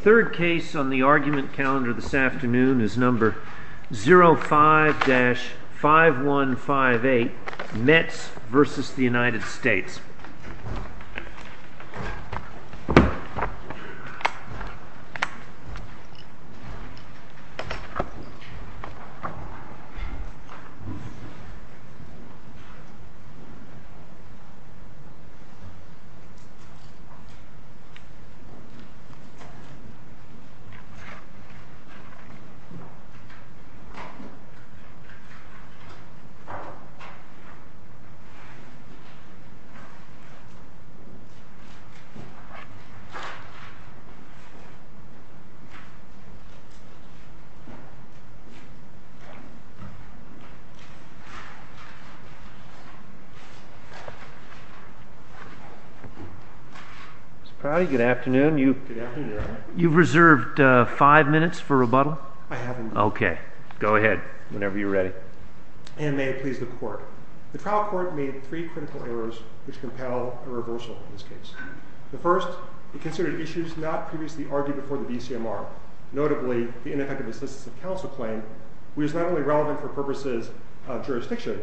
Third case on the argument calendar this afternoon is number 05-5158 Metz v. United States Third case on the argument calendar this afternoon is number 05-5158 Metz v. United States You've reserved five minutes for rebuttal? I have indeed. Okay, go ahead, whenever you're ready. And may it please the court, the trial court made three critical errors which compel a reversal in this case. The first, it considered issues not previously argued before the DCMR, notably the ineffective assistance of counsel claim, which is not only relevant for purposes of jurisdiction,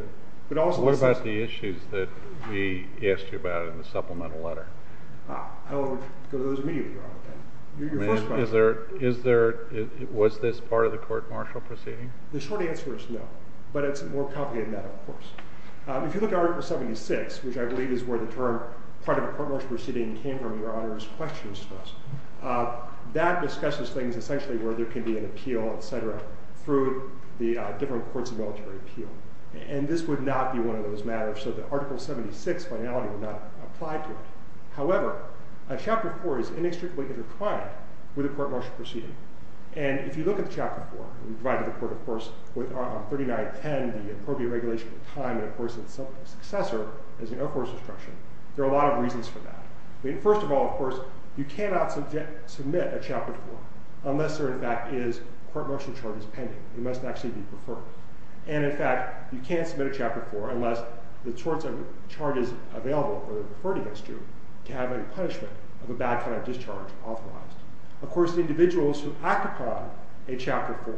but also... What about the issues that we asked you about in the supplemental letter? I would go to those immediately, Your Honor. Was this part of the court-martial proceeding? The short answer is no, but it's a more complicated matter, of course. If you look at Article 76, which I believe is where the term part of a court-martial proceeding came from, Your Honor, is question and stress. That discusses things essentially where there can be an appeal, et cetera, through the different courts of military appeal. And this would not be one of those matters, so the Article 76 finality would not apply to it. However, Chapter 4 is inextricably intertwined with a court-martial proceeding. And if you look at Chapter 4, we provided the court, of course, with 3910, the appropriate regulation of time, and of course, its successor is the Air Force instruction. There are a lot of reasons for that. First of all, of course, you cannot submit a Chapter 4 unless there, in fact, is court-martial charges pending. It must actually be preferred. And, in fact, you can't submit a Chapter 4 unless the sorts of charges available or preferred against you to have any punishment of a bad kind of discharge authorized. Of course, the individuals who act upon a Chapter 4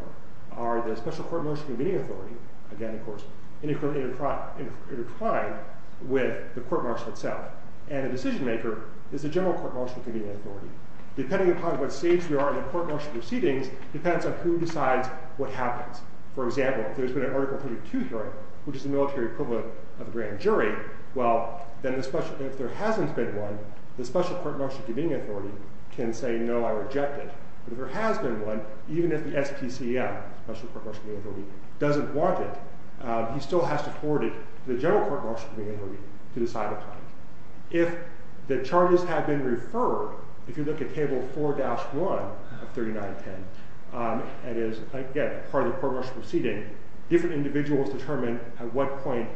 are the special court-martial convening authority, again, of course, intertwined with the court-martial itself. And the decision-maker is the general court-martial convening authority. Depending upon what stage we are in the court-martial proceedings depends on who decides what happens. For example, if there's been an Article 32 hearing, which is the military equivalent of a grand jury, well, then if there hasn't been one, the special court-martial convening authority can say, no, I reject it. But if there has been one, even if the SPCM, special court-martial convening authority, doesn't want it, he still has to forward it to the general court-martial convening authority to decide upon it. If the charges have been referred, if you look at Table 4-1 of 3910, that is, again, part of the court-martial proceeding, different individuals determine at what point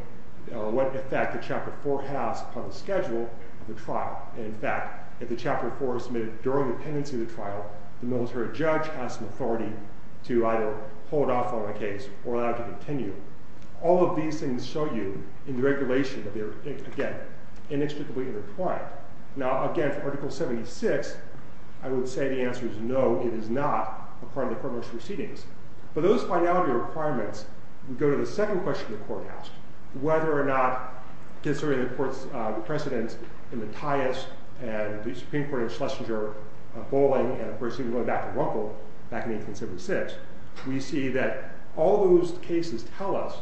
or what effect the Chapter 4 has upon the schedule of the trial. And, in fact, if the Chapter 4 is submitted during the pendency of the trial, the military judge has some authority to either hold off on the case or allow it to continue. All of these things show you in the regulation that they are, again, inextricably intertwined. Now, again, for Article 76, I would say the answer is no, it is not a part of the court-martial proceedings. But those finality requirements, we go to the second question the court asked, whether or not, considering the court's precedents in Mattias and the Supreme Court in Schlesinger, Bolling, and, of course, even going back to Runkle back in 1876, we see that all those cases tell us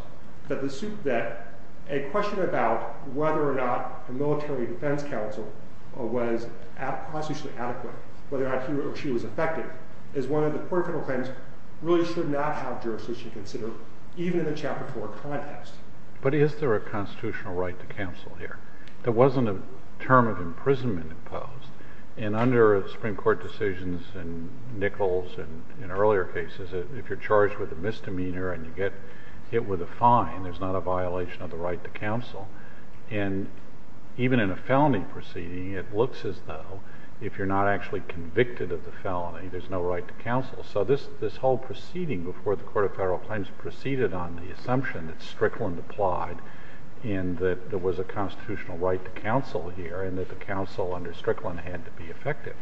that a question about whether or not a military defense counsel was constitutionally adequate, whether or not he or she was effective, is one of the court-final claims really should not have jurisdiction considered, even in the Chapter 4 context. But is there a constitutional right to counsel here? There wasn't a term of imprisonment imposed. And under Supreme Court decisions in Nichols and in earlier cases, if you're charged with a misdemeanor and you get hit with a fine, there's not a violation of the right to counsel. And even in a felony proceeding, it looks as though if you're not actually convicted of the felony, there's no right to counsel. So this whole proceeding before the Court of Federal Claims proceeded on the assumption that Strickland applied and that there was a constitutional right to counsel here and that the counsel under Strickland had to be effective.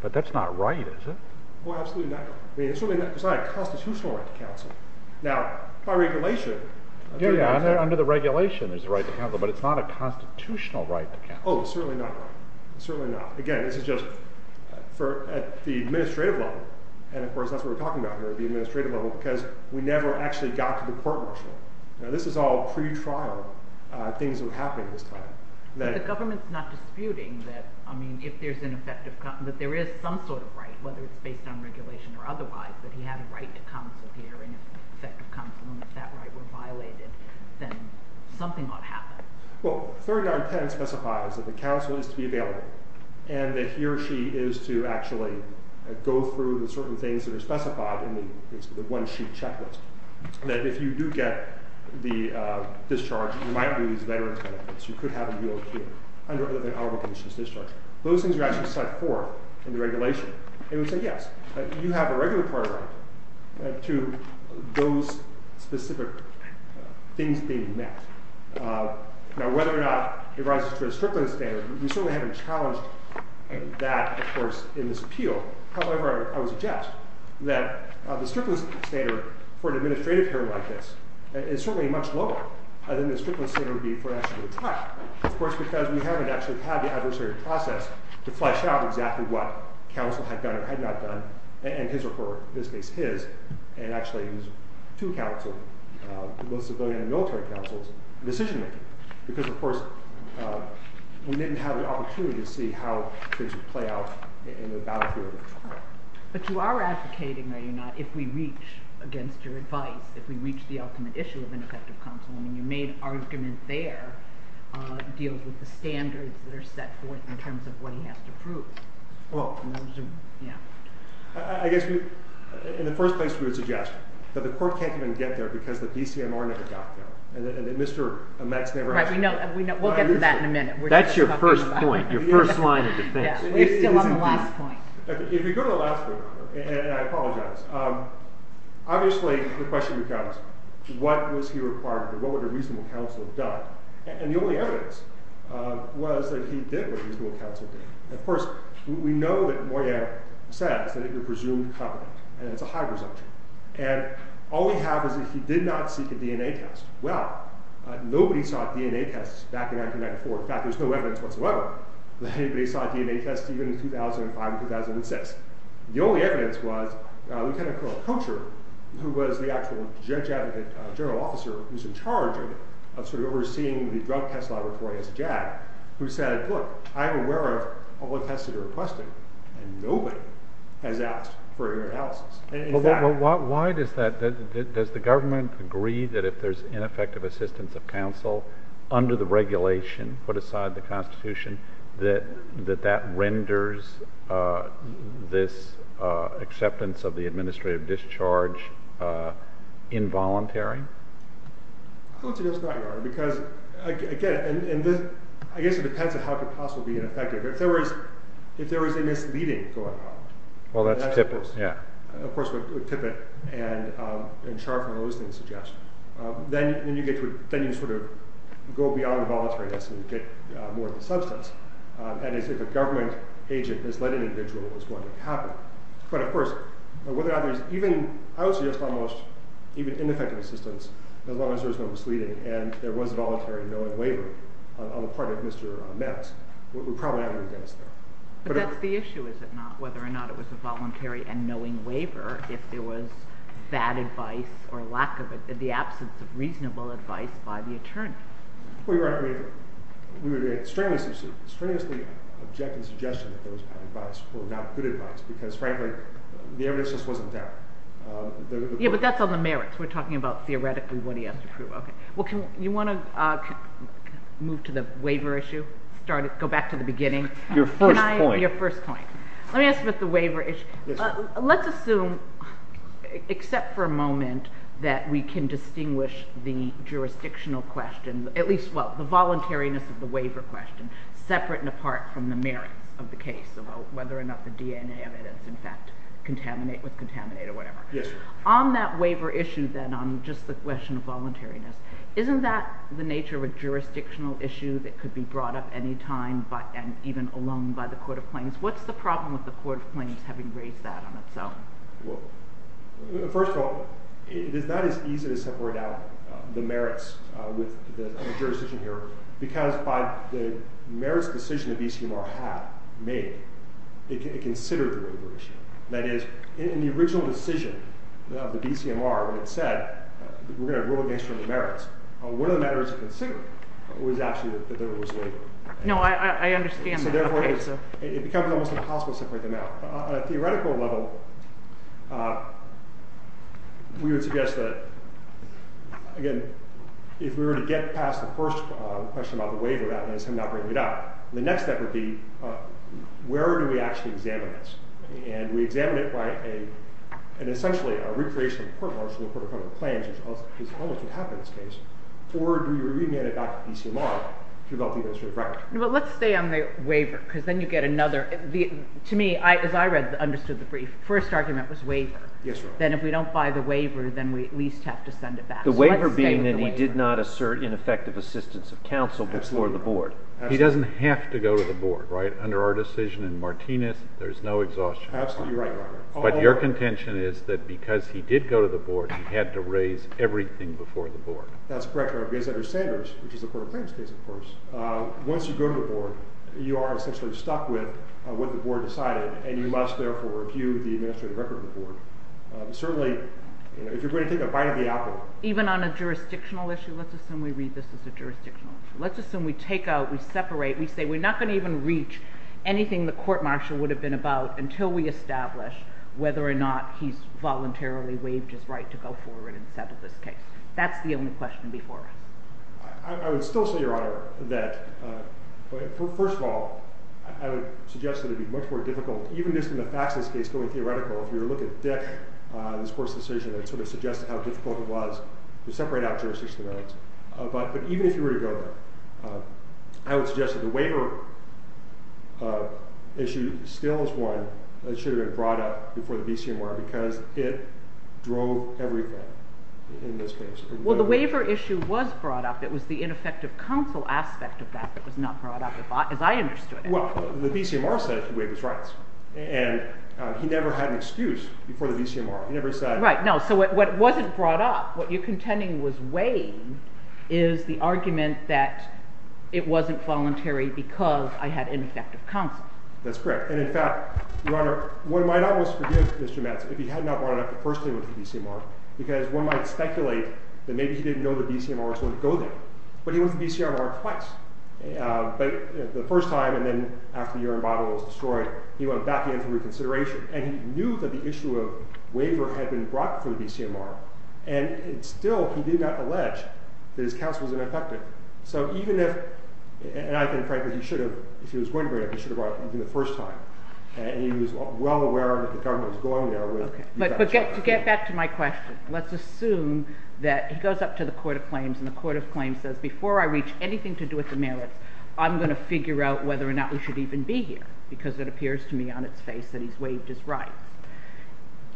But that's not right, is it? Well, absolutely not. It's not a constitutional right to counsel. Now, by regulation, there's a right to counsel. Yeah, under the regulation, there's a right to counsel. But it's not a constitutional right to counsel. Oh, it's certainly not. It's certainly not. Again, this is just at the administrative level. And, of course, that's what we're talking about here at the administrative level because we never actually got to the court martial. Now, this is all pretrial things that were happening at this time. But the government's not disputing that, I mean, if there is some sort of right, whether it's based on regulation or otherwise, that he had a right to counsel here. And if effective counsel and that right were violated, then something ought to happen. Well, 3910 specifies that the counsel is to be available and that he or she is to actually go through the certain things that are specified in the one-sheet checklist, that if you do get the discharge, you might lose veterans benefits. You could have a UOQ under other than honorable conditions discharge. Those things are actually set forth in the regulation. It would say, yes, you have a regular part right to those specific things being met. Now, whether or not it rises to a stripling standard, we certainly haven't challenged that, of course, in this appeal. However, I would suggest that the stripling standard for an administrative hearing like this is certainly much lower than the stripling standard would be for an actual trial, of course, because we haven't actually had the adversarial process to flesh out exactly what counsel had done or had not done, and his or her, in this case his, and actually to counsel, both civilian and military counsels, decision-making. Because, of course, we didn't have the opportunity to see how things would play out in the battlefield. But you are advocating, are you not, if we reach against your advice, if we reach the ultimate issue of an effective counsel, and your main argument there deals with the standards that are set forth in terms of what he has to prove. Well, I guess in the first place we would suggest that the court can't even get there because the DCMR never got there. And Mr. Metz never has. We'll get to that in a minute. That's your first point, your first line of defense. We're still on the last point. If you go to the last point, and I apologize, obviously the question becomes what was he required, what would a reasonable counsel have done? And the only evidence was that he did what a reasonable counsel did. Of course, we know that Moyet says that it was presumed competent, and it's a high presumption. And all we have is that he did not seek a DNA test. Well, nobody sought DNA tests back in 1994. In fact, there's no evidence whatsoever that anybody sought DNA tests even in 2005 and 2006. The only evidence was Lieutenant Colonel Kocher, who was the actual judge advocate general officer who was in charge of sort of overseeing the drug test laboratory as a JAD, who said, look, I'm aware of all the tests that are requested, and nobody has asked for an analysis. Well, why does the government agree that if there's ineffective assistance of counsel under the regulation put aside in the Constitution, that that renders this acceptance of the administrative discharge involuntary? I don't think that's right, Your Honor, because, again, I guess it depends on how it could possibly be ineffective. If there is a misleading going on, and that's of course what Tippett and Scharf and those things suggest, then you sort of go beyond the voluntaryness and get more of the substance. And if a government agent has led an individual, it's going to happen. But, of course, whether or not there's even, I would suggest almost even ineffective assistance, as long as there's no misleading and there was a voluntary knowing waiver on the part of Mr. Metz, we're probably out of the debts there. But that's the issue, is it not, whether or not it was a voluntary and knowing waiver, if there was bad advice or lack of it, the absence of reasonable advice by the attorney. Well, Your Honor, we would strangely object to the suggestion that there was bad advice or not good advice, because, frankly, the evidence just wasn't there. Yeah, but that's on the merits. We're talking about theoretically what he has to prove. Well, you want to move to the waiver issue, go back to the beginning? Your first point. Let me ask about the waiver issue. Let's assume, except for a moment, that we can distinguish the jurisdictional question, at least, well, the voluntariness of the waiver question, separate and apart from the merits of the case about whether or not the DNA evidence, in fact, was contaminated or whatever. Yes. On that waiver issue, then, on just the question of voluntariness, isn't that the nature of a jurisdictional issue that could be brought up anytime and even alone by the Court of Claims? What's the problem with the Court of Claims having raised that on its own? Well, first of all, it is not as easy to separate out the merits with the jurisdiction here, because by the merits decision that BCMR had made, it considered the waiver issue. That is, in the original decision of the BCMR when it said, we're going to rule against you on the merits, one of the matters it considered was actually that there was waiver. No, I understand that. So therefore, it becomes almost impossible to separate them out. On a theoretical level, we would suggest that, again, if we were to get past the first question about the waiver, that is him not bringing it up, the next step would be where do we actually examine this? And we examine it by essentially a recreation of the court martial law, the Court of Claims, which is almost what happened in this case, or do we remand it back to BCMR? But let's stay on the waiver, because then you get another. To me, as I understood the brief, the first argument was waiver. Yes, Your Honor. Then if we don't buy the waiver, then we at least have to send it back. The waiver being that he did not assert ineffective assistance of counsel before the board. He doesn't have to go to the board, right? There is no exhaustion. Absolutely right, Your Honor. But your contention is that because he did go to the board, he had to raise everything before the board. That's correct, Your Honor. Because under Sanders, which is the Court of Claims case, of course, once you go to the board, you are essentially stuck with what the board decided, and you must therefore review the administrative record of the board. Certainly, if you're going to take a bite of the apple. Even on a jurisdictional issue, let's assume we read this as a jurisdictional issue. Let's assume we take out, we separate, we say we're not going to even reach anything the court-martial would have been about until we establish whether or not he's voluntarily waived his right to go forward and settle this case. That's the only question before us. I would still say, Your Honor, that, first of all, I would suggest that it would be much more difficult, even just in the facts of this case, going theoretical, if you were to look at Dick, this court's decision, it would sort of suggest how difficult it was to separate out jurisdictions of variance. But even if you were to go there, I would suggest that the waiver issue still is one that should have been brought up before the BCMR, because it drove everything in this case. Well, the waiver issue was brought up. It was the ineffective counsel aspect of that that was not brought up, as I understood it. Well, the BCMR said he waived his rights, and he never had an excuse before the BCMR. Right. No, so what wasn't brought up, what you're contending was waived, is the argument that it wasn't voluntary because I had ineffective counsel. That's correct. And in fact, Your Honor, one might almost forgive Mr. Metz if he had not brought it up the first time he went to the BCMR, because one might speculate that maybe he didn't know the BCMR was going to go there. But he went to the BCMR twice. The first time, and then after the Urine Bottle was destroyed, he went back in for reconsideration, and he knew that the issue of waiver had been brought before the BCMR, and still he did not allege that his counsel was ineffective. So even if, and I think, frankly, he should have, if he was going to bring it up, he should have brought it up even the first time. And he was well aware that the government was going there with... But to get back to my question, let's assume that he goes up to the Court of Claims, and the Court of Claims says, before I reach anything to do with the merits, I'm going to figure out whether or not we should even be here, because it appears to me on its face that he's waived his rights.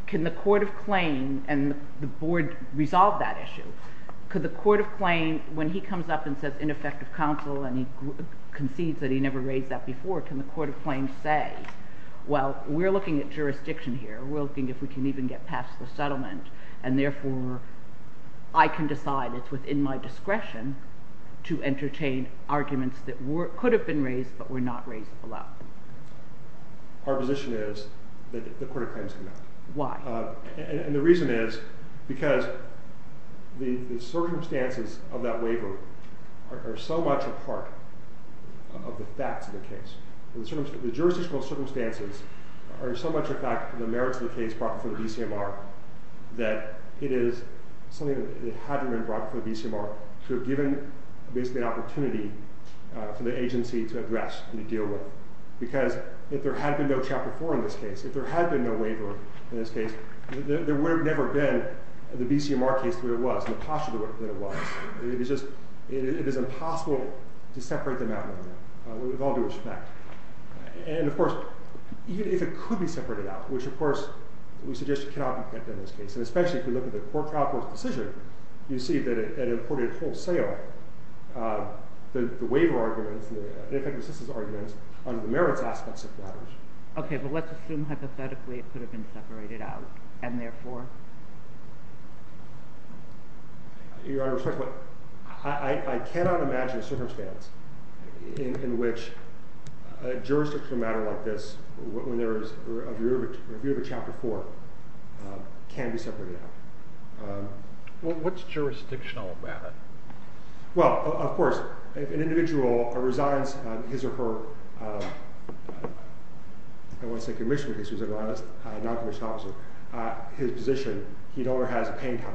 Can the Court of Claims and the Board resolve that issue? Could the Court of Claims, when he comes up and says, ineffective counsel, and he concedes that he never raised that before, can the Court of Claims say, well, we're looking at jurisdiction here, we're looking if we can even get past the settlement, and therefore I can decide it's within my discretion to entertain arguments that could have been raised but were not raised below. Our position is that the Court of Claims cannot. Why? And the reason is because the circumstances of that waiver are so much a part of the facts of the case. The jurisdictional circumstances are so much a fact of the merits of the case brought before the BCMR that it is something that had to have been brought before the BCMR to have given basically an opportunity for the agency to address and to deal with. Because if there had been no Chapter 4 in this case, if there had been no waiver in this case, there would have never been the BCMR case the way it was, and the posture the way it was. It is impossible to separate them out of that, with all due respect. And of course, even if it could be separated out, which of course we suggest cannot be kept in this case, and especially if you look at the Court Trial Court's decision, you see that it imported wholesale the waiver arguments, the effective assistance arguments, under the merits aspects of that. Okay, but let's assume hypothetically it could have been separated out, and therefore? Your Honor, I cannot imagine a circumstance in which a jurisdictional matter like this, when there is a view of a Chapter 4, can be separated out. What's jurisdictional about it? Well, of course, if an individual resigns his or her, I don't want to say commissioner, because he's a lawyer, that's a non-commissioned officer, his position, he no longer has a paying power.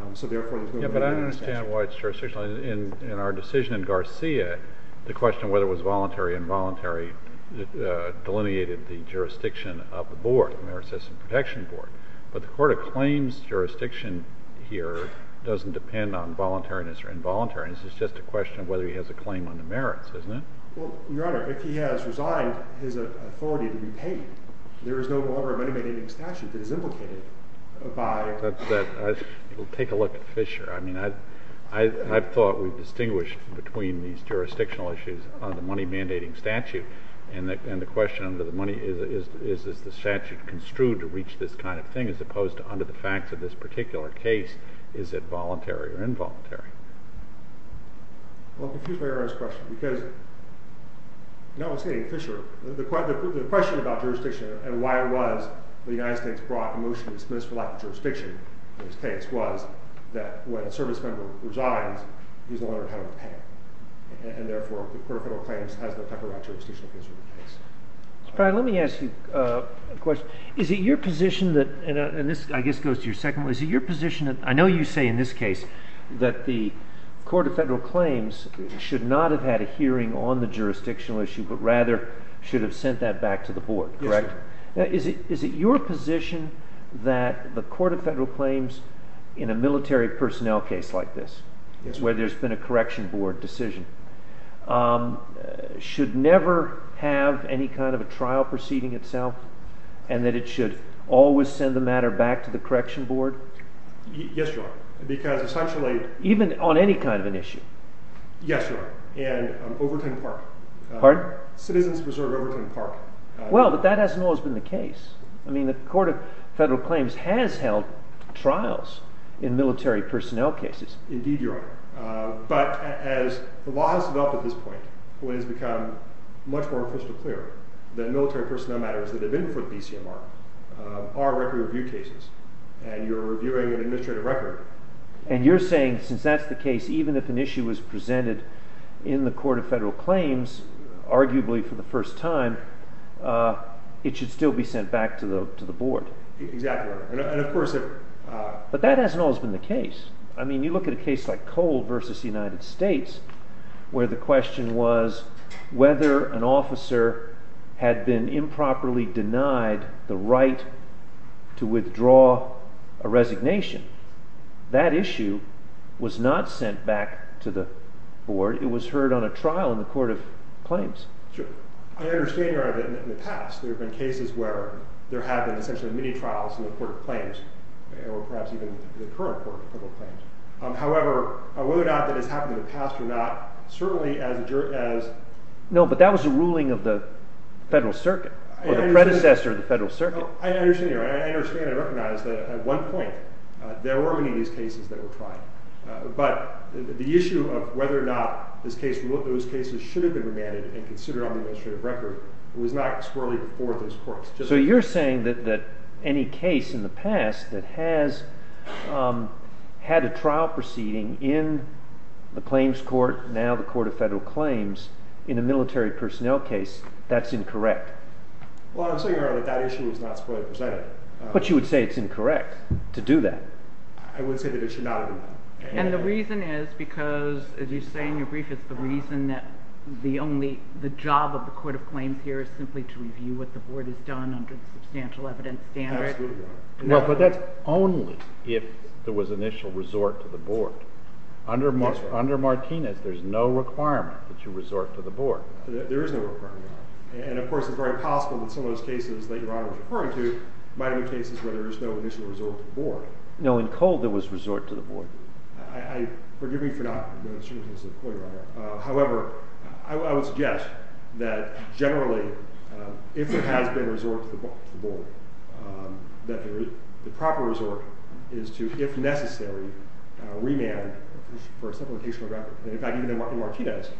But I understand why it's jurisdictional. In our decision in Garcia, the question of whether it was voluntary or involuntary, delineated the jurisdiction of the board, the Merit System Protection Board. But the Court of Claims jurisdiction here doesn't depend on voluntariness or involuntariness. It's just a question of whether he has a claim on the merits, isn't it? Well, Your Honor, if he has resigned his authority to be paid, there is no longer a money-mandating statute that is implicated by... Take a look at Fisher. I mean, I've thought we've distinguished between these jurisdictional issues on the money-mandating statute, and the question under the money is, is the statute construed to reach this kind of thing, as opposed to under the facts of this particular case, is it voluntary or involuntary? Well, I'm confused by Your Honor's question, because the question about jurisdiction and why it was the United States brought a motion to dismiss for lack of jurisdiction in this case was that when a service member resigns, he's no longer entitled to pay. And therefore, the Court of Federal Claims has no power over jurisdictional issues in this case. Mr. Pratt, let me ask you a question. Is it your position that... And this, I guess, goes to your second one. I know you say in this case that the Court of Federal Claims should not have had a hearing on the jurisdictional issue, but rather should have sent that back to the board, correct? Yes, sir. Is it your position that the Court of Federal Claims in a military personnel case like this, where there's been a correction board decision, should never have any kind of a trial proceeding itself, and that it should always send the matter back to the correction board? Yes, Your Honor, because essentially... Even on any kind of an issue? Yes, Your Honor, and Overton Park. Pardon? Citizens Reserve Overton Park. Well, but that hasn't always been the case. I mean, the Court of Federal Claims has held trials in military personnel cases. Indeed, Your Honor. But as the law has developed at this point, when it has become much more crystal clear that military personnel matters that have been before the BCMR are record review cases, and you're reviewing an administrative record... And you're saying, since that's the case, even if an issue was presented in the Court of Federal Claims, arguably for the first time, it should still be sent back to the board. Exactly, Your Honor. And of course... But that hasn't always been the case. I mean, you look at a case like Cole v. United States, where the question was whether an officer had been improperly denied the right to withdraw a resignation. That issue was not sent back to the board. It was heard on a trial in the Court of Claims. Sure. I understand, Your Honor, that in the past there have been cases where there have been essentially many trials in the Court of Claims, or perhaps even in the current Court of Federal Claims. However, whether or not that has happened in the past or not, certainly as a jury... No, but that was a ruling of the Federal Circuit, or the predecessor of the Federal Circuit. I understand, Your Honor. I understand and recognize that at one point there were many of these cases that were tried. But the issue of whether or not those cases should have been remanded and considered on the administrative record was not swirly before those courts. So you're saying that any case in the past that has had a trial proceeding in the Claims Court, now the Court of Federal Claims, in a military personnel case, that's incorrect. Well, I'm saying, Your Honor, that that issue was not swirly before. But you would say it's incorrect to do that. I would say that it should not have been done. And the reason is because, as you say in your brief, it's the reason that the only... the job of the Court of Claims here is simply to review what the board has done under the substantial evidence standard. Absolutely, Your Honor. But that's only if there was initial resort to the board. Yes, Your Honor. Under Martinez, there's no requirement that you resort to the board. There is no requirement, Your Honor. And, of course, it's very possible that some of those cases that Your Honor was referring to might have been cases where there was no initial resort to the board. No, in Cole there was resort to the board. I... forgive me for not... However, I would suggest that, generally, if there has been a resort to the board, that the proper resort is to, if necessary, remand for a simplification of the record. And, in fact, even in Martinez,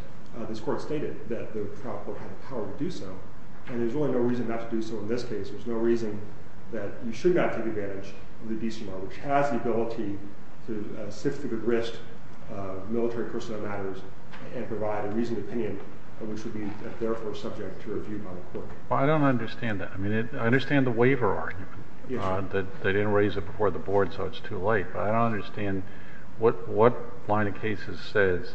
this Court stated that the trial court had the power to do so. And there's really no reason not to do so in this case. There's no reason that you should not take advantage of the DCR, which has the ability to sift through the grist of military personnel matters and provide a reasoned opinion, which would be, therefore, subject to review by the Court. Well, I don't understand that. I mean, I understand the waiver argument, that they didn't raise it before the board, so it's too late. But I don't understand what line of cases says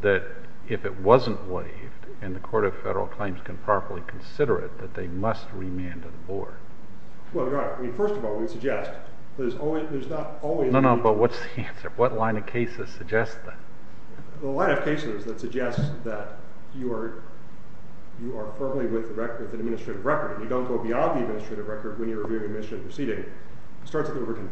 that if it wasn't waived and the Court of Federal Claims can properly consider it, that they must remand to the board. Well, Your Honor, I mean, first of all, we suggest that there's not always... No, no, but what's the answer? What line of cases suggests that? Well, the line of cases that suggest that you are firmly with an administrative record and you don't go beyond the administrative record when you're reviewing administrative proceeding starts at the original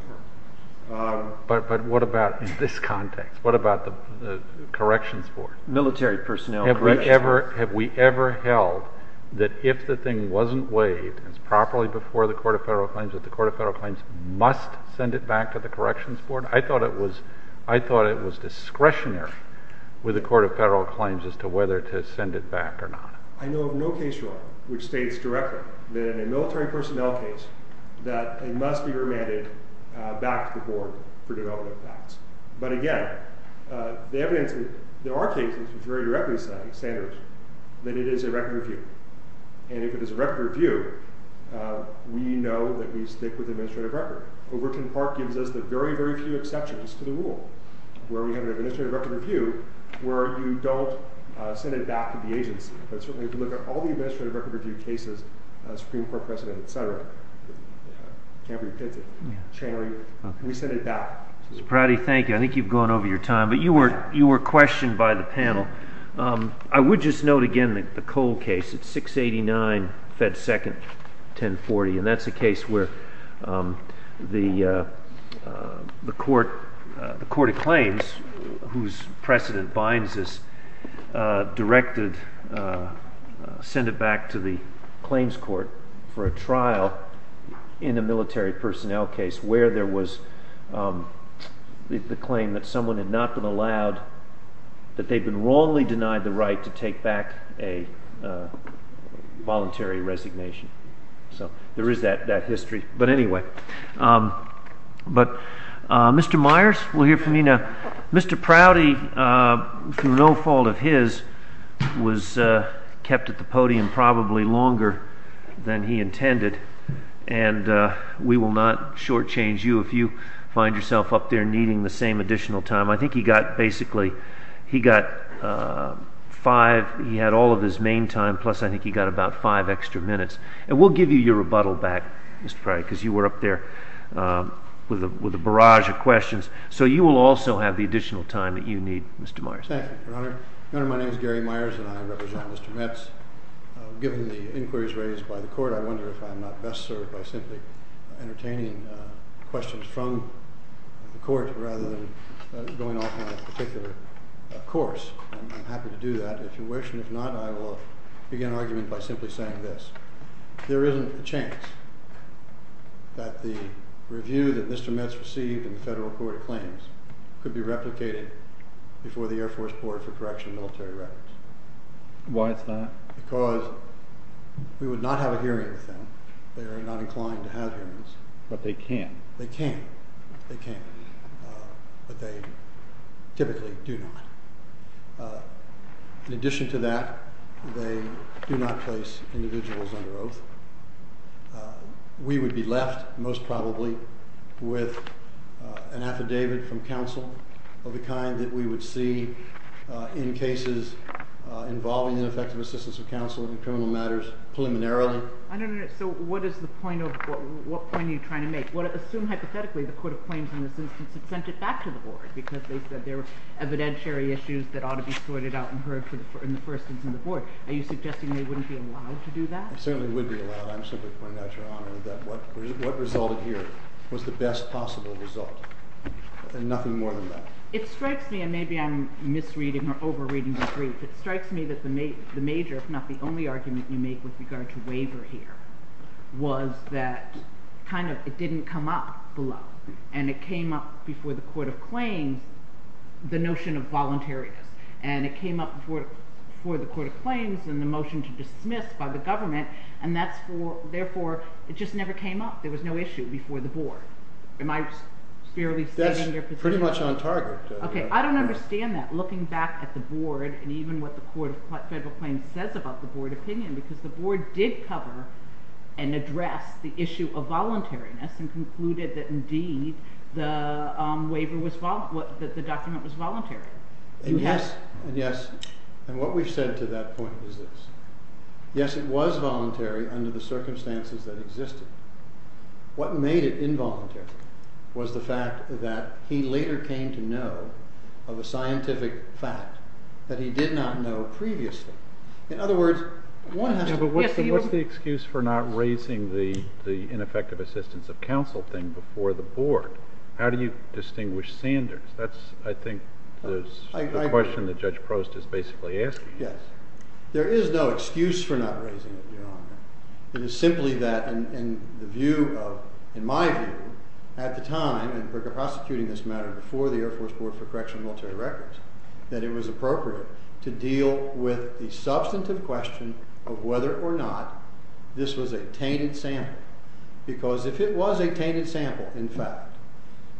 court. But what about in this context? What about the Corrections Board? Military Personnel Corrections Board. Have we ever held that if the thing wasn't waived and it's properly before the Court of Federal Claims that the Court of Federal Claims must send it back to the Corrections Board? I thought it was discretionary with the Court of Federal Claims as to whether to send it back or not. I know of no case, Your Honor, which states directly that in a military personnel case that it must be remanded back to the board for development of facts. But again, the evidence... There are cases which very directly say, Sanders, that it is a record review. And if it is a record review, we know that we stick with administrative record. Overton Park gives us the very, very few exceptions to the rule where we have an administrative record review where you don't send it back to the agency. But certainly, if you look at all the administrative record review cases, Supreme Court precedent, et cetera, can't be pitted. We send it back. Mr. Prouty, thank you. I think you've gone over your time. But you were questioned by the panel. I would just note again the Cole case. It's 689 Fed 2nd, 1040. And that's a case where the court of claims, whose precedent binds this, directed to send it back to the claims court for a trial in a military personnel case where there was the claim that someone had not been allowed... that they'd been wrongly denied the right to take back a voluntary resignation. So there is that history. But anyway. But Mr. Myers, we'll hear from you now. Mr. Prouty, through no fault of his, was kept at the podium probably longer than he intended. And we will not shortchange you if you find yourself up there needing the same additional time. I think he got basically... he got five... he had all of his main time, plus I think he got about five extra minutes. And we'll give you your rebuttal back, Mr. Prouty, because you were up there with a barrage of questions. So you will also have the additional time that you need, Mr. Myers. Thank you, Your Honor. Your Honor, my name is Gary Myers, and I represent Mr. Metz. Given the inquiries raised by the court, I wonder if I am not best served by simply entertaining questions from the court rather than going off on a particular course. I'm happy to do that, if you wish. And if not, I will begin my argument by simply saying this. There isn't a chance that the review that Mr. Metz received in the Federal Court of Claims could be replicated before the Air Force Board for correction of military records. Why is that? Because we would not have a hearing with them. They are not inclined to have hearings. But they can. They can. They can. But they typically do not. In addition to that, they do not place individuals under oath. We would be left, most probably, with an affidavit from counsel of the kind that we would see in cases involving ineffective assistance of counsel in criminal matters preliminarily. I don't understand. So what is the point of... What point are you trying to make? Assume hypothetically the Court of Claims in this instance had sent it back to the Board because they said there were evidentiary issues that ought to be sorted out and heard in the first instance in the Board. Are you suggesting they wouldn't be allowed to do that? They certainly would be allowed. I'm simply pointing out, Your Honor, that what resulted here was the best possible result and nothing more than that. It strikes me, and maybe I'm misreading or over-reading the brief, it strikes me that the major, if not the only argument you make with regard to waiver here, was that kind of it didn't come up below. And it came up before the Court of Claims, the notion of voluntariness. And it came up before the Court of Claims in the motion to dismiss by the government, and that's for, therefore, it just never came up. There was no issue before the Board. Am I sparingly stating your position? That's pretty much on target. Okay, I don't understand that. Looking back at the Board and even what the Court of Federal Claims says about the Board opinion, because the Board did cover and address the issue of voluntariness and concluded that indeed the document was voluntary. Yes, and what we've said to that point is this. Yes, it was voluntary under the circumstances that existed. What made it involuntary was the fact that he later came to know of a scientific fact that he did not know previously. In other words, one has to... before the Board. How do you distinguish Sanders? That's, I think, the question that Judge Prost is basically asking. Yes. There is no excuse for not raising it, Your Honor. It is simply that in the view of, in my view, at the time in prosecuting this matter before the Air Force Board for Correctional and Military Records that it was appropriate to deal with the substantive question of whether or not this was a tainted sample because if it was a tainted sample, in fact,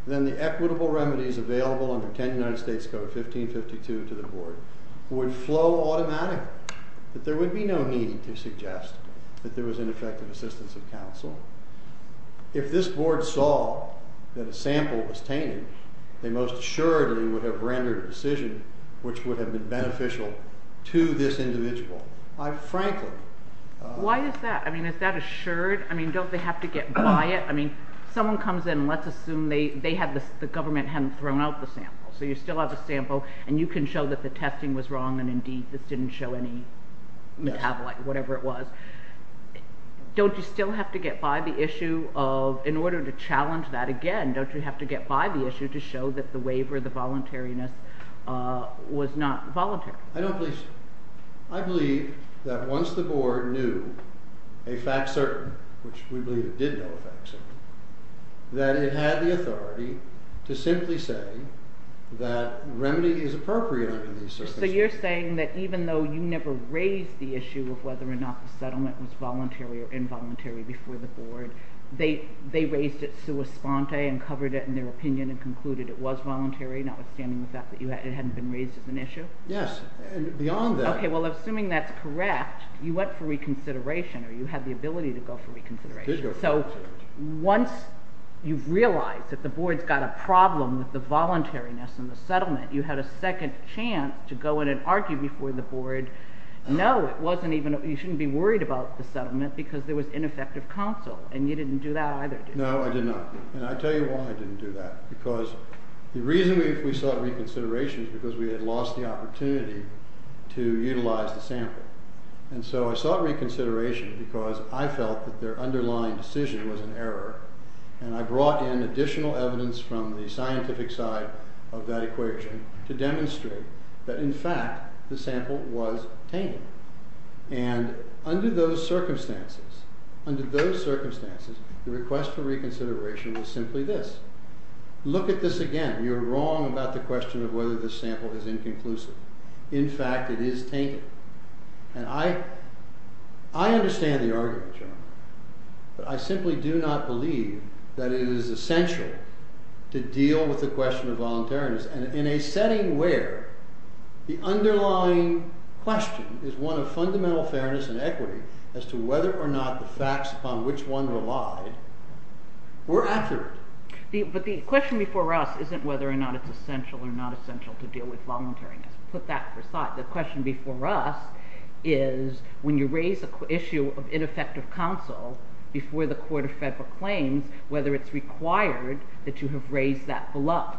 then the equitable remedies available under 10 United States Code 1552 to the Board would flow automatically. There would be no need to suggest that there was ineffective assistance of counsel. If this Board saw that a sample was tainted, they most assuredly would have rendered a decision which would have been beneficial to this individual. I frankly... Why is that? I mean, is that assured? I mean, don't they have to get by it? I mean, someone comes in and let's assume the government hadn't thrown out the sample, so you still have a sample, and you can show that the testing was wrong and indeed this didn't show any metabolite, whatever it was. Don't you still have to get by the issue of, in order to challenge that again, don't you have to get by the issue to show that the waiver, the voluntariness was not voluntary? I don't believe so. I believe that once the Board knew a fact certain, which we believe it did know a fact certain, that it had the authority to simply say that remedy is appropriate under these circumstances. So you're saying that even though you never raised the issue of whether or not the settlement was voluntary or involuntary before the Board, they raised it sua sponte and covered it in their opinion and concluded it was voluntary, notwithstanding the fact that it hadn't been raised as an issue? Yes. And beyond that... Okay, well, assuming that's correct, you went for reconsideration, or you had the ability to go for reconsideration. I did go for reconsideration. So once you've realized that the Board's got a problem with the voluntariness in the settlement, you had a second chance to go in and argue before the Board, no, it wasn't even... you shouldn't be worried about the settlement because there was ineffective counsel, and you didn't do that either, did you? No, I did not. And I'll tell you why I didn't do that, because the reason we sought reconsideration was because we had lost the opportunity to utilize the sample. And so I sought reconsideration because I felt that their underlying decision was an error, and I brought in additional evidence from the scientific side of that equation to demonstrate that, in fact, the sample was tame. And under those circumstances, under those circumstances, the request for reconsideration was simply this. Look at this again. You're wrong about the question of whether this sample is inconclusive. In fact, it is tainted. And I understand the argument, John, but I simply do not believe that it is essential to deal with the question of voluntariness, and in a setting where the underlying question is one of fundamental fairness and equity as to whether or not the facts upon which one relied were accurate. But the question before us isn't whether or not it's essential or not essential to deal with voluntariness. Put that aside. The question before us is, when you raise the issue of ineffective counsel before the Court of Federal Claims, whether it's required that you have raised that bluff.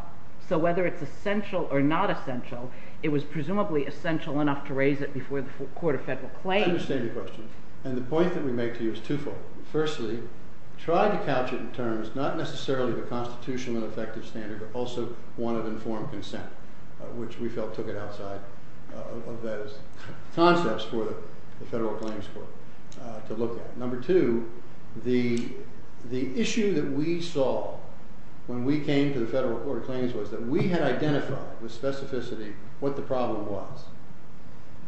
So whether it's essential or not essential, it was presumably essential enough to raise it before the Court of Federal Claims. I understand your question, and the point that we make to you is twofold. Firstly, try to couch it in terms of not necessarily the constitutional and effective standard, but also one of informed consent, which we felt took it outside of those concepts for the Federal Claims Court to look at. Number two, the issue that we saw when we came to the Federal Court of Claims was that we had identified with specificity what the problem was,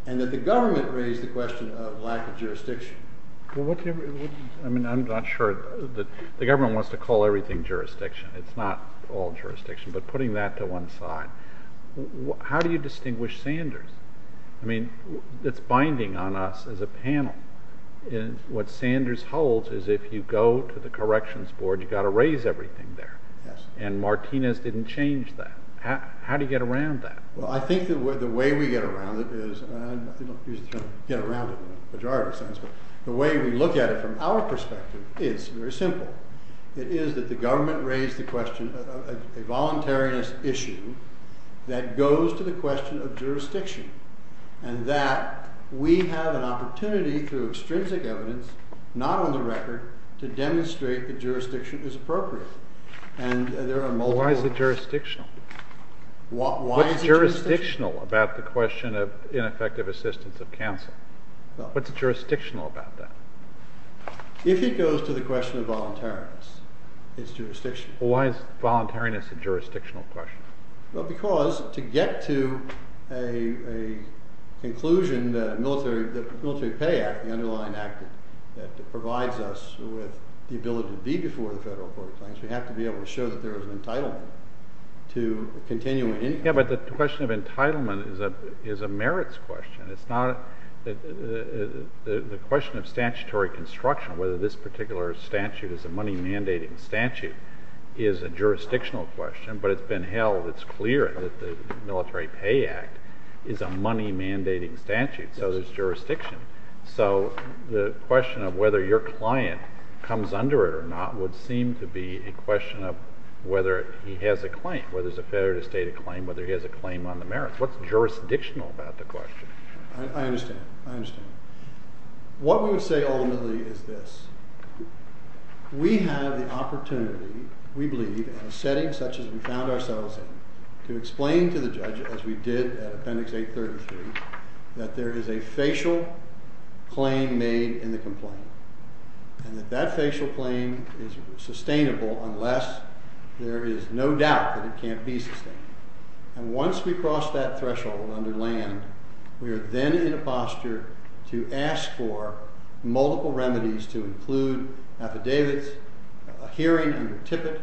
and that the government raised the question of lack of jurisdiction. I mean, I'm not sure. The government wants to call everything jurisdiction. It's not all jurisdiction, but putting that to one side. How do you distinguish Sanders? I mean, it's binding on us as a panel. What Sanders holds is if you go to the Corrections Board, you've got to raise everything there, and Martinez didn't change that. How do you get around that? Well, I think the way we get around it is, and I'm not trying to get around it in a majority sense, but the way we look at it from our perspective is very simple. It is that the government raised the question of a voluntariness issue that goes to the question of jurisdiction, and that we have an opportunity through extrinsic evidence, not on the record, to demonstrate that jurisdiction is appropriate. Why is it jurisdictional? What's jurisdictional about the question of ineffective assistance of counsel? What's jurisdictional about that? If it goes to the question of voluntariness, it's jurisdictional. Why is voluntariness a jurisdictional question? Well, because to get to a conclusion that the Military Pay Act, the underlying act that provides us with the ability to be before the federal court of claims, we have to be able to show that there is an entitlement to continuing income. Yeah, but the question of entitlement is a merits question. The question of statutory construction, whether this particular statute is a money-mandating statute, is a jurisdictional question, but it's been held, it's clear, that the Military Pay Act is a money-mandating statute, so there's jurisdiction. So the question of whether your client comes under it or not would seem to be a question of whether he has a claim, whether it's a federally stated claim, whether he has a claim on the merits. What's jurisdictional about the question? I understand. I understand. What we would say ultimately is this. We have the opportunity, we believe, in a setting such as we found ourselves in, to explain to the judge, as we did at Appendix 833, that there is a facial claim made in the complaint, and that that facial claim is sustainable unless there is no doubt that it can't be sustained. And once we cross that threshold under land, we are then in a posture to ask for multiple remedies to include affidavits, a hearing under Tippett,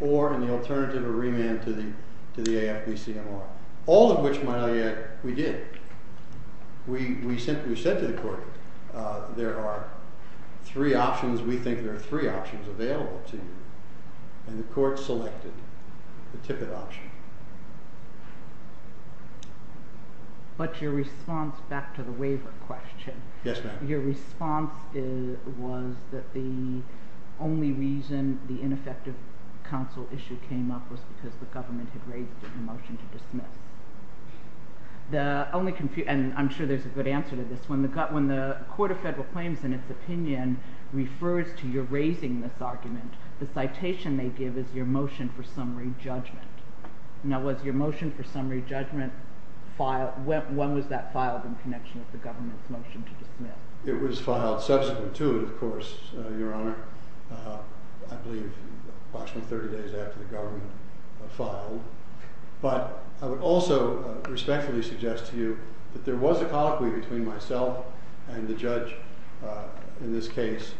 or in the alternative, a remand to the AFB-CMR, all of which, my ally, we did. We simply said to the court, there are three options. We think there are three options available to you, and the court selected the Tippett option. But your response, back to the waiver question, your response was that the only reason the ineffective counsel issue came up was because the government had raised a motion to dismiss. The only confusion, and I'm sure there's a good answer to this, when the Court of Federal Claims, in its opinion, refers to your raising this argument, the citation they give is your motion for summary judgment. Now was your motion for summary judgment when was that filed in connection with the government's motion to dismiss? It was filed subsequent to it, of course, Your Honor, I believe approximately 30 days after the government filed. But I would also respectfully suggest to you that there was a colloquy between myself and the judge in this case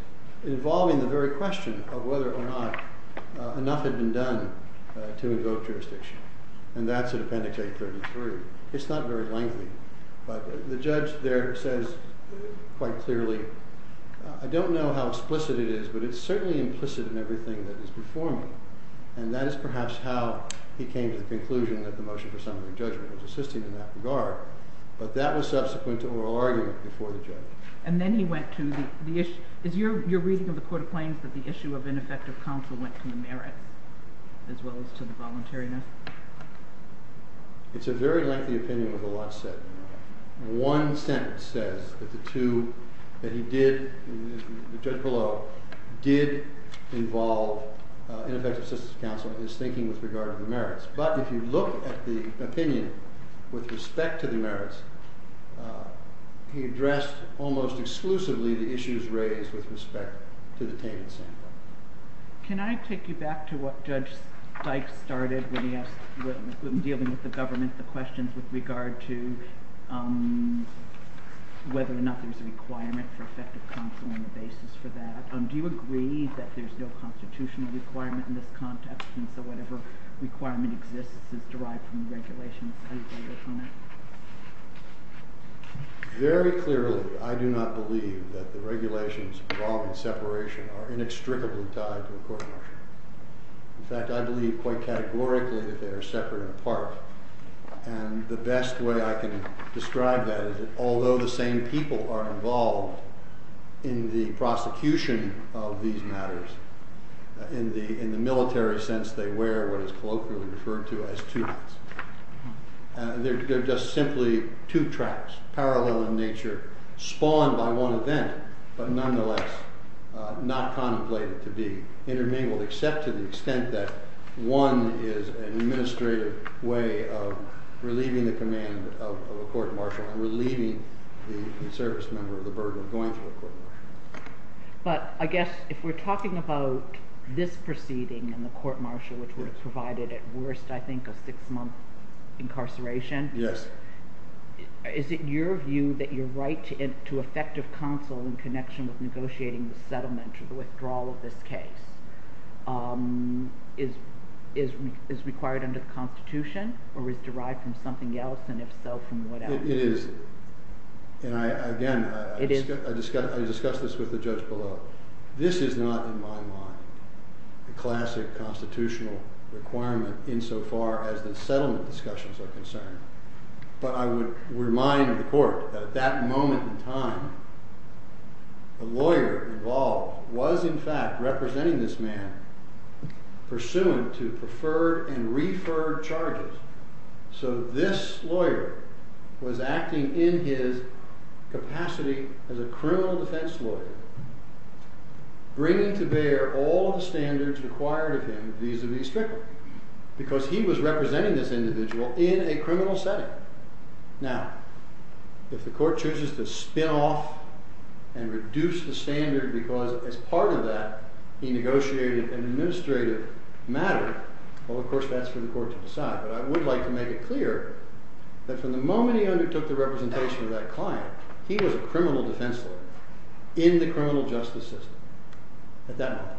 involving the very question of whether or not enough had been done to invoke jurisdiction. And that's at Appendix A33. It's not very lengthy, but the judge there says quite clearly, I don't know how explicit it is, but it's certainly implicit in everything that is before me. And that is perhaps how he came to the conclusion that the motion for summary judgment was assisting in that regard. But that was subsequent to oral argument before the judge. And then he went to the issue, is your reading of the Court of Claims that the issue of ineffective counsel went to the merits as well as to the voluntariness? It's a very lengthy opinion with a lot said. One sentence says that the two that he did, the judge below, did involve ineffective assistance counsel in his thinking with regard to the merits. But if you look at the opinion with respect to the merits, he addressed almost exclusively the issues raised with respect to the tainted sample. Can I take you back to what Judge Dyke started when he asked dealing with the government, the questions with regard to whether or not there's a requirement for effective counsel on the basis for that. Do you agree that there's no constitutional requirement in this context and so whatever requirement exists is derived from the regulations Very clearly, I do not believe that the regulations involving separation are inextricably tied to a court-martial. In fact, I believe quite categorically that they are separate and apart. And the best way I can describe that is that although the same people are involved in the prosecution of these matters, in the military sense, they wear what is colloquially referred to as they're just simply two tracks, parallel in nature, spawned by one event, but nonetheless not contemplated to be intermingled except to the extent that one is an administrative way of relieving the command of a court-martial and relieving the service member of the burden of going through a court-martial. But I guess if we're talking about this proceeding and the court-martial which would have provided at worst I think a six-month incarceration. Yes. Is it your view that your right to effective counsel in connection with negotiating the settlement or the withdrawal of this case is required under the Constitution or is derived from something else and if so, from whatever? It is. And again, I discussed this with the judge below. This is not, in my mind, a classic constitutional requirement insofar as the settlement discussions are concerned. But I would remind the court that at that moment in time the lawyer involved was in fact representing this man pursuant to preferred and referred charges. So this lawyer was acting in his capacity as a criminal defense lawyer bringing to bear all the strictness because he was representing this individual in a criminal setting. Now, if the court chooses to spin off and reduce the standard because as part of that he negotiated an administrative matter, well of course that's for the court to decide. But I would like to make it clear that from the moment he undertook the representation of that client he was a criminal defense lawyer in the criminal justice system at that moment.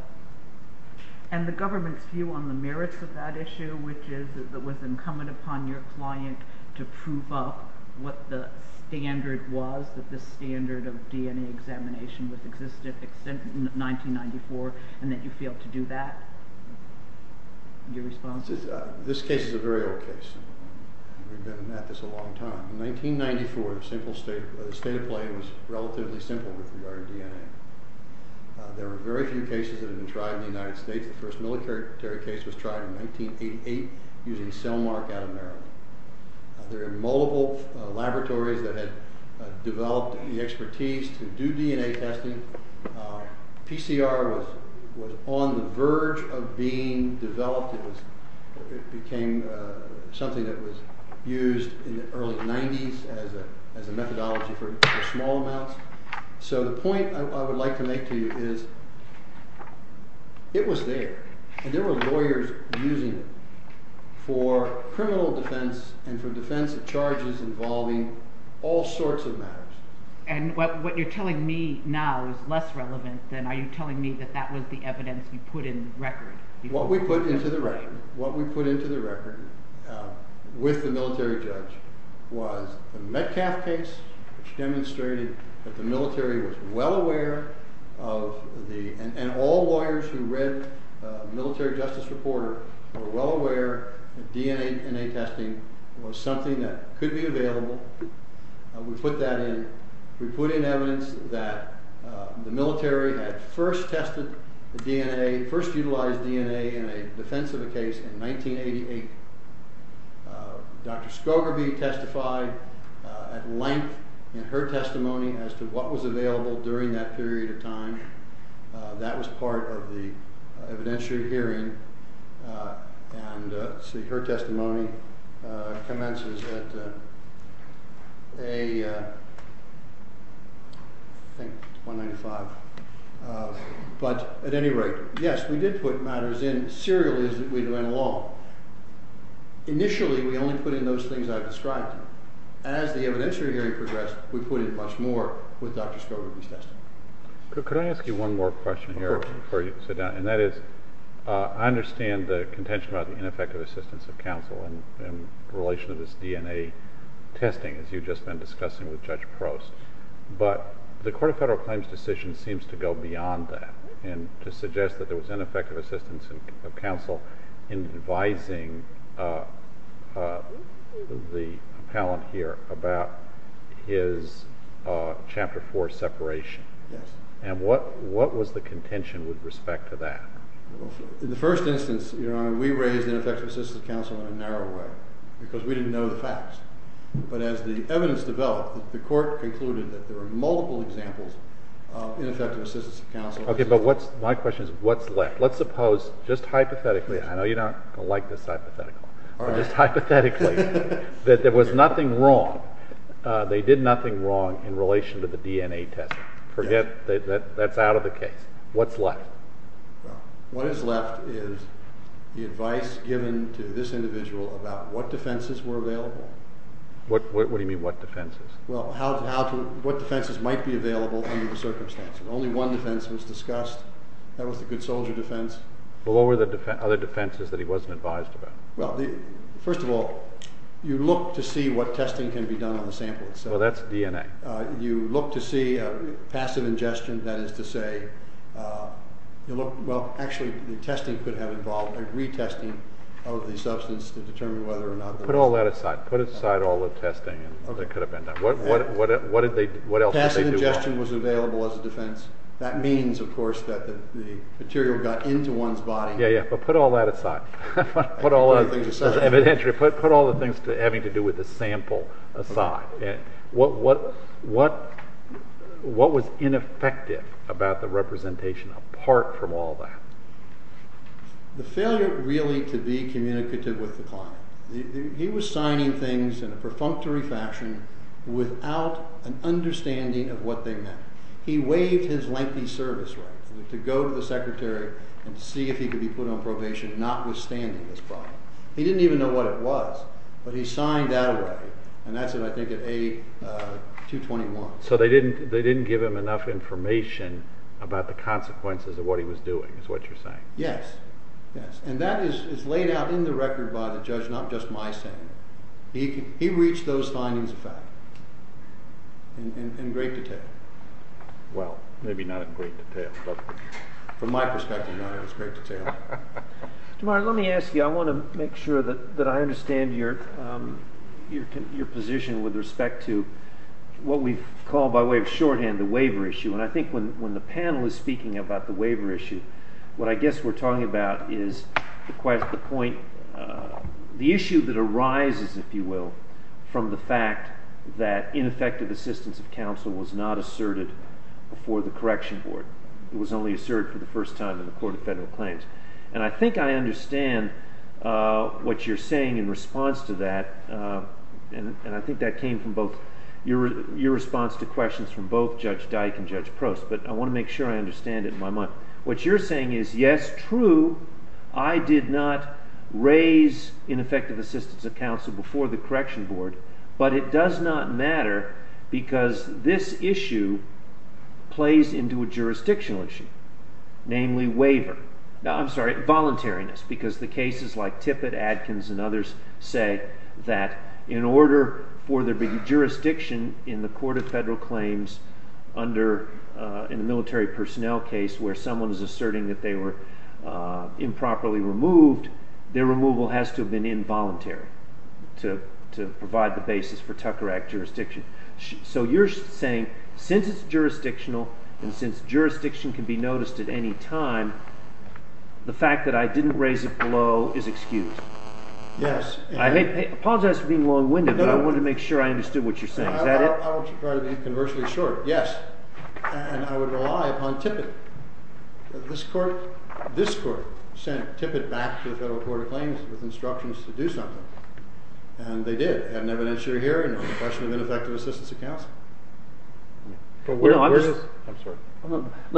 And the government's view on the merits of that issue, which is that it was incumbent upon your client to prove up what the standard was that this standard of DNA examination was existent in 1994 and that you failed to do that? Your response? This case is a very old case. We've been at this a long time. In 1994 the state of play was relatively simple with regard to DNA. There are very few cases that have been tried in the United States. The first military case was tried in 1988 using cell mark out of Maryland. There are multiple laboratories that had developed the expertise to do DNA testing. PCR was on the verge of being developed. It became something that was used in the early 90's as a methodology for small amounts. The point I would like to make to you is it was there and there were lawyers using it for criminal defense and for defense of charges involving all sorts of matters. What you're telling me now is less relevant than are you telling me that that was the evidence you put in the record? What we put into the record with the military judge was the Metcalf case which demonstrated that the military was well aware of the and all lawyers who read the military justice reporter were well aware that DNA testing was something that could be available. We put that in. We put in evidence that the military had first tested the DNA, first utilized DNA in a defense of a case in 1988. Dr. Skogerby testified at length in her testimony as to what was available during that period of time. That was part of the evidentiary hearing. Her testimony commences at a I think 195. At any rate, yes, we did put matters in. Serial is that we went along. Initially, we only put in those things I've described. As the evidentiary hearing progressed, we put in much more with Dr. Skogerby's testimony. Could I ask you one more question here before you sit down? And that is, I understand the contention about the ineffective assistance of counsel in relation to this DNA testing as you've just been discussing with Judge Prost, but the Court of Federal Claims decision seems to go beyond that and to suggest that there was ineffective assistance of counsel in advising the appellant here about his Chapter 4 separation. And what was the contention with respect to that? In the first instance, Your Honor, we raised ineffective assistance of counsel in a narrow way because we didn't know the facts. But as the evidence developed, the Court concluded that there were multiple examples of ineffective assistance of counsel. Okay, but my question is, what's left? Let's suppose, just hypothetically, I know you're not going to like this hypothetical, but just hypothetically, that there was nothing wrong, they did nothing wrong in relation to the DNA testing. Forget that that's out of the case. What's left? What is left is the advice given to this individual about what defenses were available. What do you mean, what defenses? What defenses might be available under the circumstances? Only one defense was discussed. That was the good soldier defense. Well, what were the other defenses that he wasn't advised about? First of all, you look to see what testing can be done on the sample itself. Well, that's DNA. You look to see passive ingestion, that is to say, well, actually, the testing could have involved a retesting of the substance to determine whether or not Put all that aside. Put aside all the testing that could have been done. What else did they do? Passive ingestion was available as a defense. That means, of course, that the material got into one's body. Yeah, but put all that aside. Put all the things having to do with the sample aside. What was ineffective about the representation apart from all that? The failure really to be communicative with the client. He was signing things in a perfunctory fashion without an understanding of what they meant. He waived his lengthy service right to go to the secretary and see if he could be put on probation, notwithstanding this problem. He didn't even know what it was, but he signed that away. And that's it, I think, at A221. So they didn't give him enough information about the consequences of what he was doing, is what you're saying. Yes, yes. And that is laid out in the record by the judge, not just my saying. He reached those findings of fact in great detail. Well, maybe not in great detail, but from my perspective, not in as great detail. Tomorrow, let me ask you, I want to make sure that I understand your position with respect to what we've called, by way of shorthand, the waiver issue. And I think when the panel is speaking about the waiver issue, what I guess we're talking about is the point, the issue that arises, if you will, from the fact that ineffective assistance of counsel was not asserted before the correction board. It was only asserted for the first time in the Court of Federal Claims. And I think I understand what you're saying in response to that, and I think that came from both your response to questions from both Judge Dyke and Judge Prost, but I want to make sure I understand it in my mind. What you're saying is, yes, true, I did not raise ineffective assistance of counsel before the correction board, but it does not matter because this issue plays into a jurisdictional issue, namely, voluntariness, because the cases like Tippett, Adkins, and others say that in order for there to be jurisdiction in the Court of Federal Claims in a military personnel case where someone is asserting that they were improperly removed, their removal has to have been involuntary to provide the basis for Tucker Act jurisdiction. So you're saying since it's jurisdictional, and since jurisdiction can be noticed at any time, the fact that I didn't raise it below is excused? Yes. I apologize for being long-winded, but I wanted to make sure I understood what you're saying. Is that it? I won't try to be conversely short. Yes. And I would rely upon Tippett. This Court sent Tippett back to the Federal Court of Claims with instructions to do something, and they did. They had an evidentiary hearing on the question of ineffective assistance of counsel. I'm sorry. I'm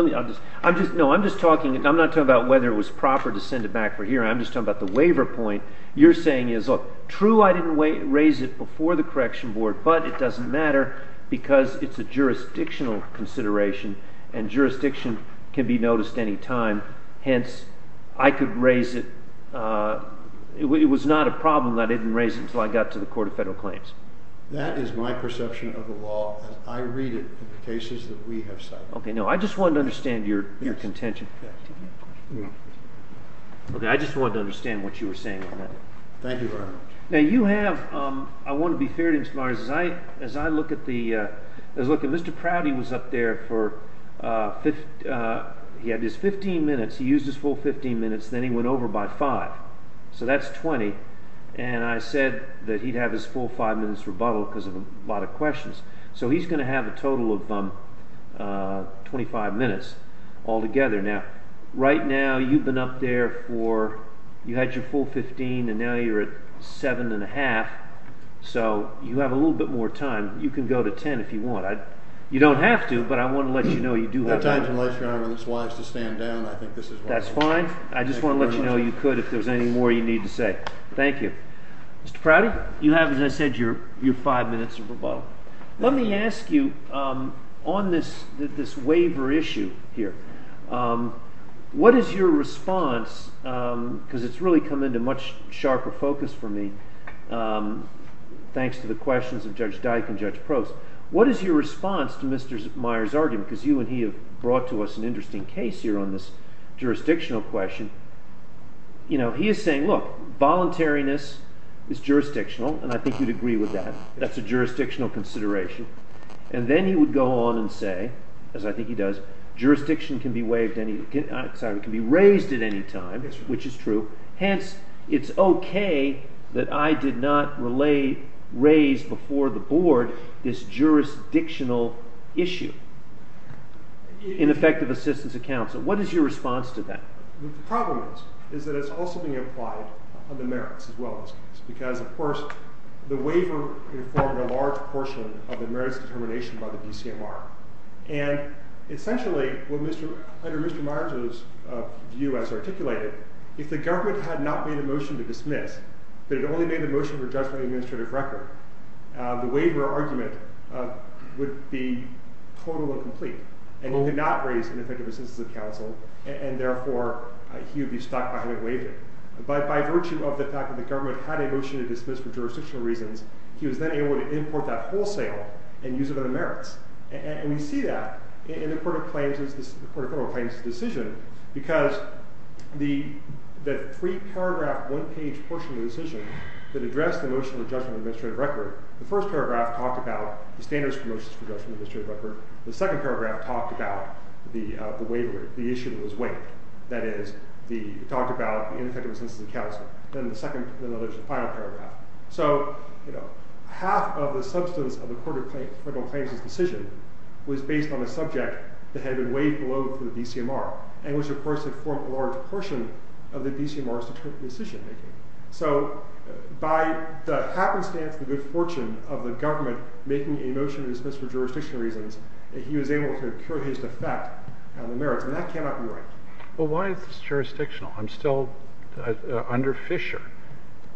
not talking about whether it was proper to send it back for hearing. I'm just talking about the waiver point. You're saying is, look, true, I didn't raise it before the correction board, but it doesn't matter because it's a jurisdictional consideration, and jurisdiction can be noticed at any time. Hence, I could raise it. It was not a problem that I didn't raise it until I got to the Court of Federal Claims. That is my perception of the law, and I read it in the cases that we have cited. Okay. Now, I just wanted to understand your contention. Okay. I just wanted to understand what you were saying on that. Thank you very much. Now, you have, I want to be clear, Mr. Prouty was up there for 15 minutes. He used his full 15 minutes, then he went over by 5, so that's 20. And I said that he'd have his full 5 minutes rebuttal because of a lot of questions, so he's going to have a total of 25 minutes all together. Now, right now, you've been up there for, you had your full 15, and now you're at 7 1⁄2, so you have a little bit more time. You can go to 10 if you want. You don't have to, but I want to let you know you do have time. At times, unless your Honor is wise to stand down, I think this is why. That's fine. I just want to let you know you could if there's any more you need to say. Thank you. Mr. Prouty, you have, as I said, your 5 minutes of rebuttal. Let me ask you on this waiver issue here, what is your response because it's really come into much sharper focus for me thanks to the questions of Judge Dyke and Judge Proust. What is your response to Mr. Meyer's argument, because you and he have brought to us an interesting case here on this jurisdictional question. He is saying, look, voluntariness is jurisdictional, and I think you'd agree with that. That's a jurisdictional consideration, and then he would go on and say, as I think he does, jurisdiction can be raised at any time, which is true, hence it's okay that I did not raise before the board this jurisdictional issue in effective assistance of counsel. What is your response to that? The problem is that it's also being applied on the merits as well, because, of course, the waiver informed a large portion of the merits determination by the DCMR, and essentially, under Mr. Meyer's view as not only the motion to dismiss, but it only made the motion for adjustment of the administrative record. The waiver argument would be total and complete, and he did not raise in effective assistance of counsel, and therefore, he would be stuck behind the waiver. But by virtue of the fact that the government had a motion to dismiss for jurisdictional reasons, he was then able to import that wholesale and use it on the merits. And we see that in the court of claims decision, because the three-paragraph, one-page portion of the decision that addressed the motion of adjustment of administrative record, the first paragraph talked about the standards for motions for adjustment of administrative record. The second paragraph talked about the waiver, the issue that was waived. That is, it talked about the ineffective assistance of counsel. Then there's the final paragraph. So, you know, half of the substance of the court of claims decision was based on a subject that had been waived below for the DCMR, and which, of course, had formed a large portion of the DCMR's decision-making. So by the happenstance and good fortune of the government making a motion to dismiss for jurisdictional reasons, he was able to cure his defect on the merits, and that cannot be right. Well, why is this jurisdictional? I'm still under Fisher.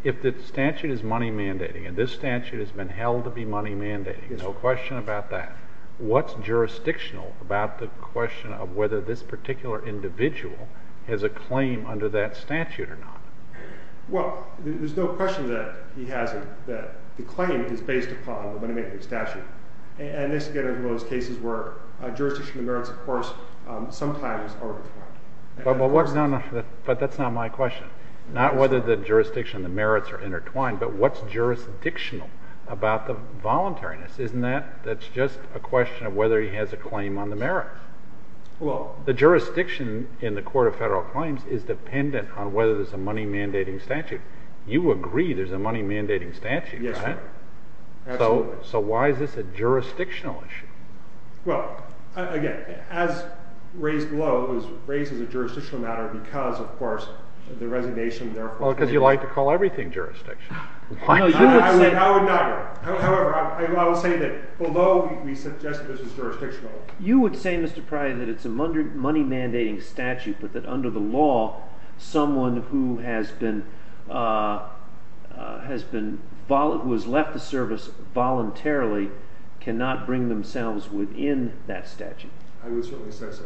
If the statute is money mandating, and this statute has been held to be money mandating, there's no question about that. What's jurisdictional about the question of whether this particular individual has a claim under that statute or not? Well, there's no question that he hasn't, that the claim is based upon the money mandating statute. And this, again, is one of those cases where jurisdictional merits, of course, sometimes are intertwined. But that's not my question. Not whether the jurisdiction and the merits are intertwined, but what's jurisdictional about the voluntariness? Isn't that just a question of whether he has a claim on the merits? The jurisdiction in the Court of Federal Claims is dependent on whether there's a money mandating statute. You agree there's a money mandating statute, right? So why is this a jurisdictional issue? Well, again, as raised below, it was raised as a jurisdictional matter because, of course, the resignation, therefore, Well, because you like to call everything jurisdiction. I would not. However, I would say that although we suggested this was jurisdictional, You would say, Mr. Pryor, that it's a money mandating statute, but that under the law, someone who has been has been who has left the service voluntarily cannot bring themselves within that statute. I would certainly say so.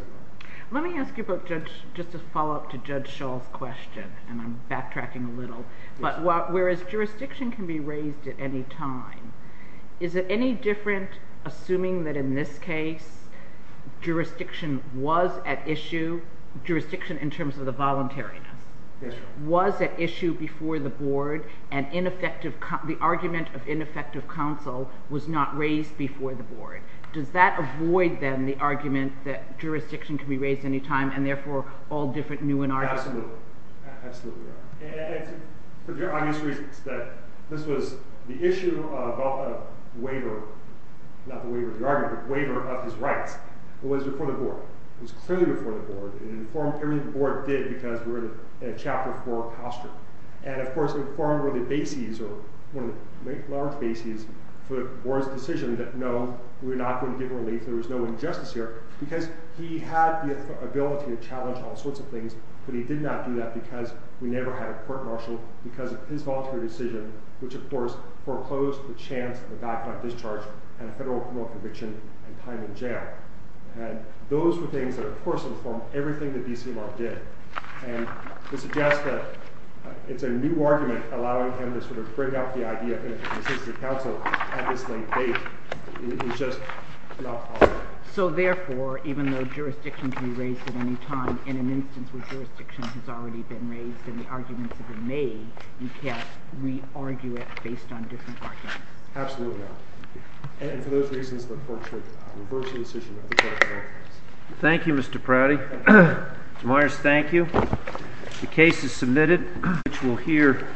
Let me ask you about, just to follow up to Judge Shull's question, and I'm backtracking a little, but whereas jurisdiction can be raised at any time, is it any different assuming that, in this case, jurisdiction was at issue, jurisdiction in terms of the voluntariness, was at issue before the Board, and the argument of ineffective counsel was not raised before the Board. Does that avoid, then, the argument that jurisdiction can be raised any time and, therefore, all different new Absolutely. Absolutely right. And for very obvious reasons, that this was the issue of waiver, not the waiver of the argument, but the waiver of his rights was before the Board. It was clearly before the Board, and it informed everything the Board did, because we're in a chapter four posture. And, of course, informed were the bases, or one of the large bases, for the Board's decision that, no, we're not going to give relief, there was no injustice here, because he had the ability to challenge all sorts of things, but he did not do that because we never had a court marshal because of his voluntary decision, which, of course, foreclosed the chance of a back-up discharge, and a federal criminal conviction, and time in jail. And those were things that, of course, informed everything that B.C. Law did. And to suggest that it's a new argument allowing him to sort of break out the idea of ineffective counsel at this late date is just not possible. So, therefore, even though jurisdiction can be raised at any time, in an instance where jurisdiction has already been raised, and the arguments have been made, you can't re-argue it based on different arguments. Absolutely not. And for those reasons, the court should reverse the decision of the court of appeals. Thank you, Mr. Prouty. Mr. Myers, thank you. The case is submitted, which we'll hear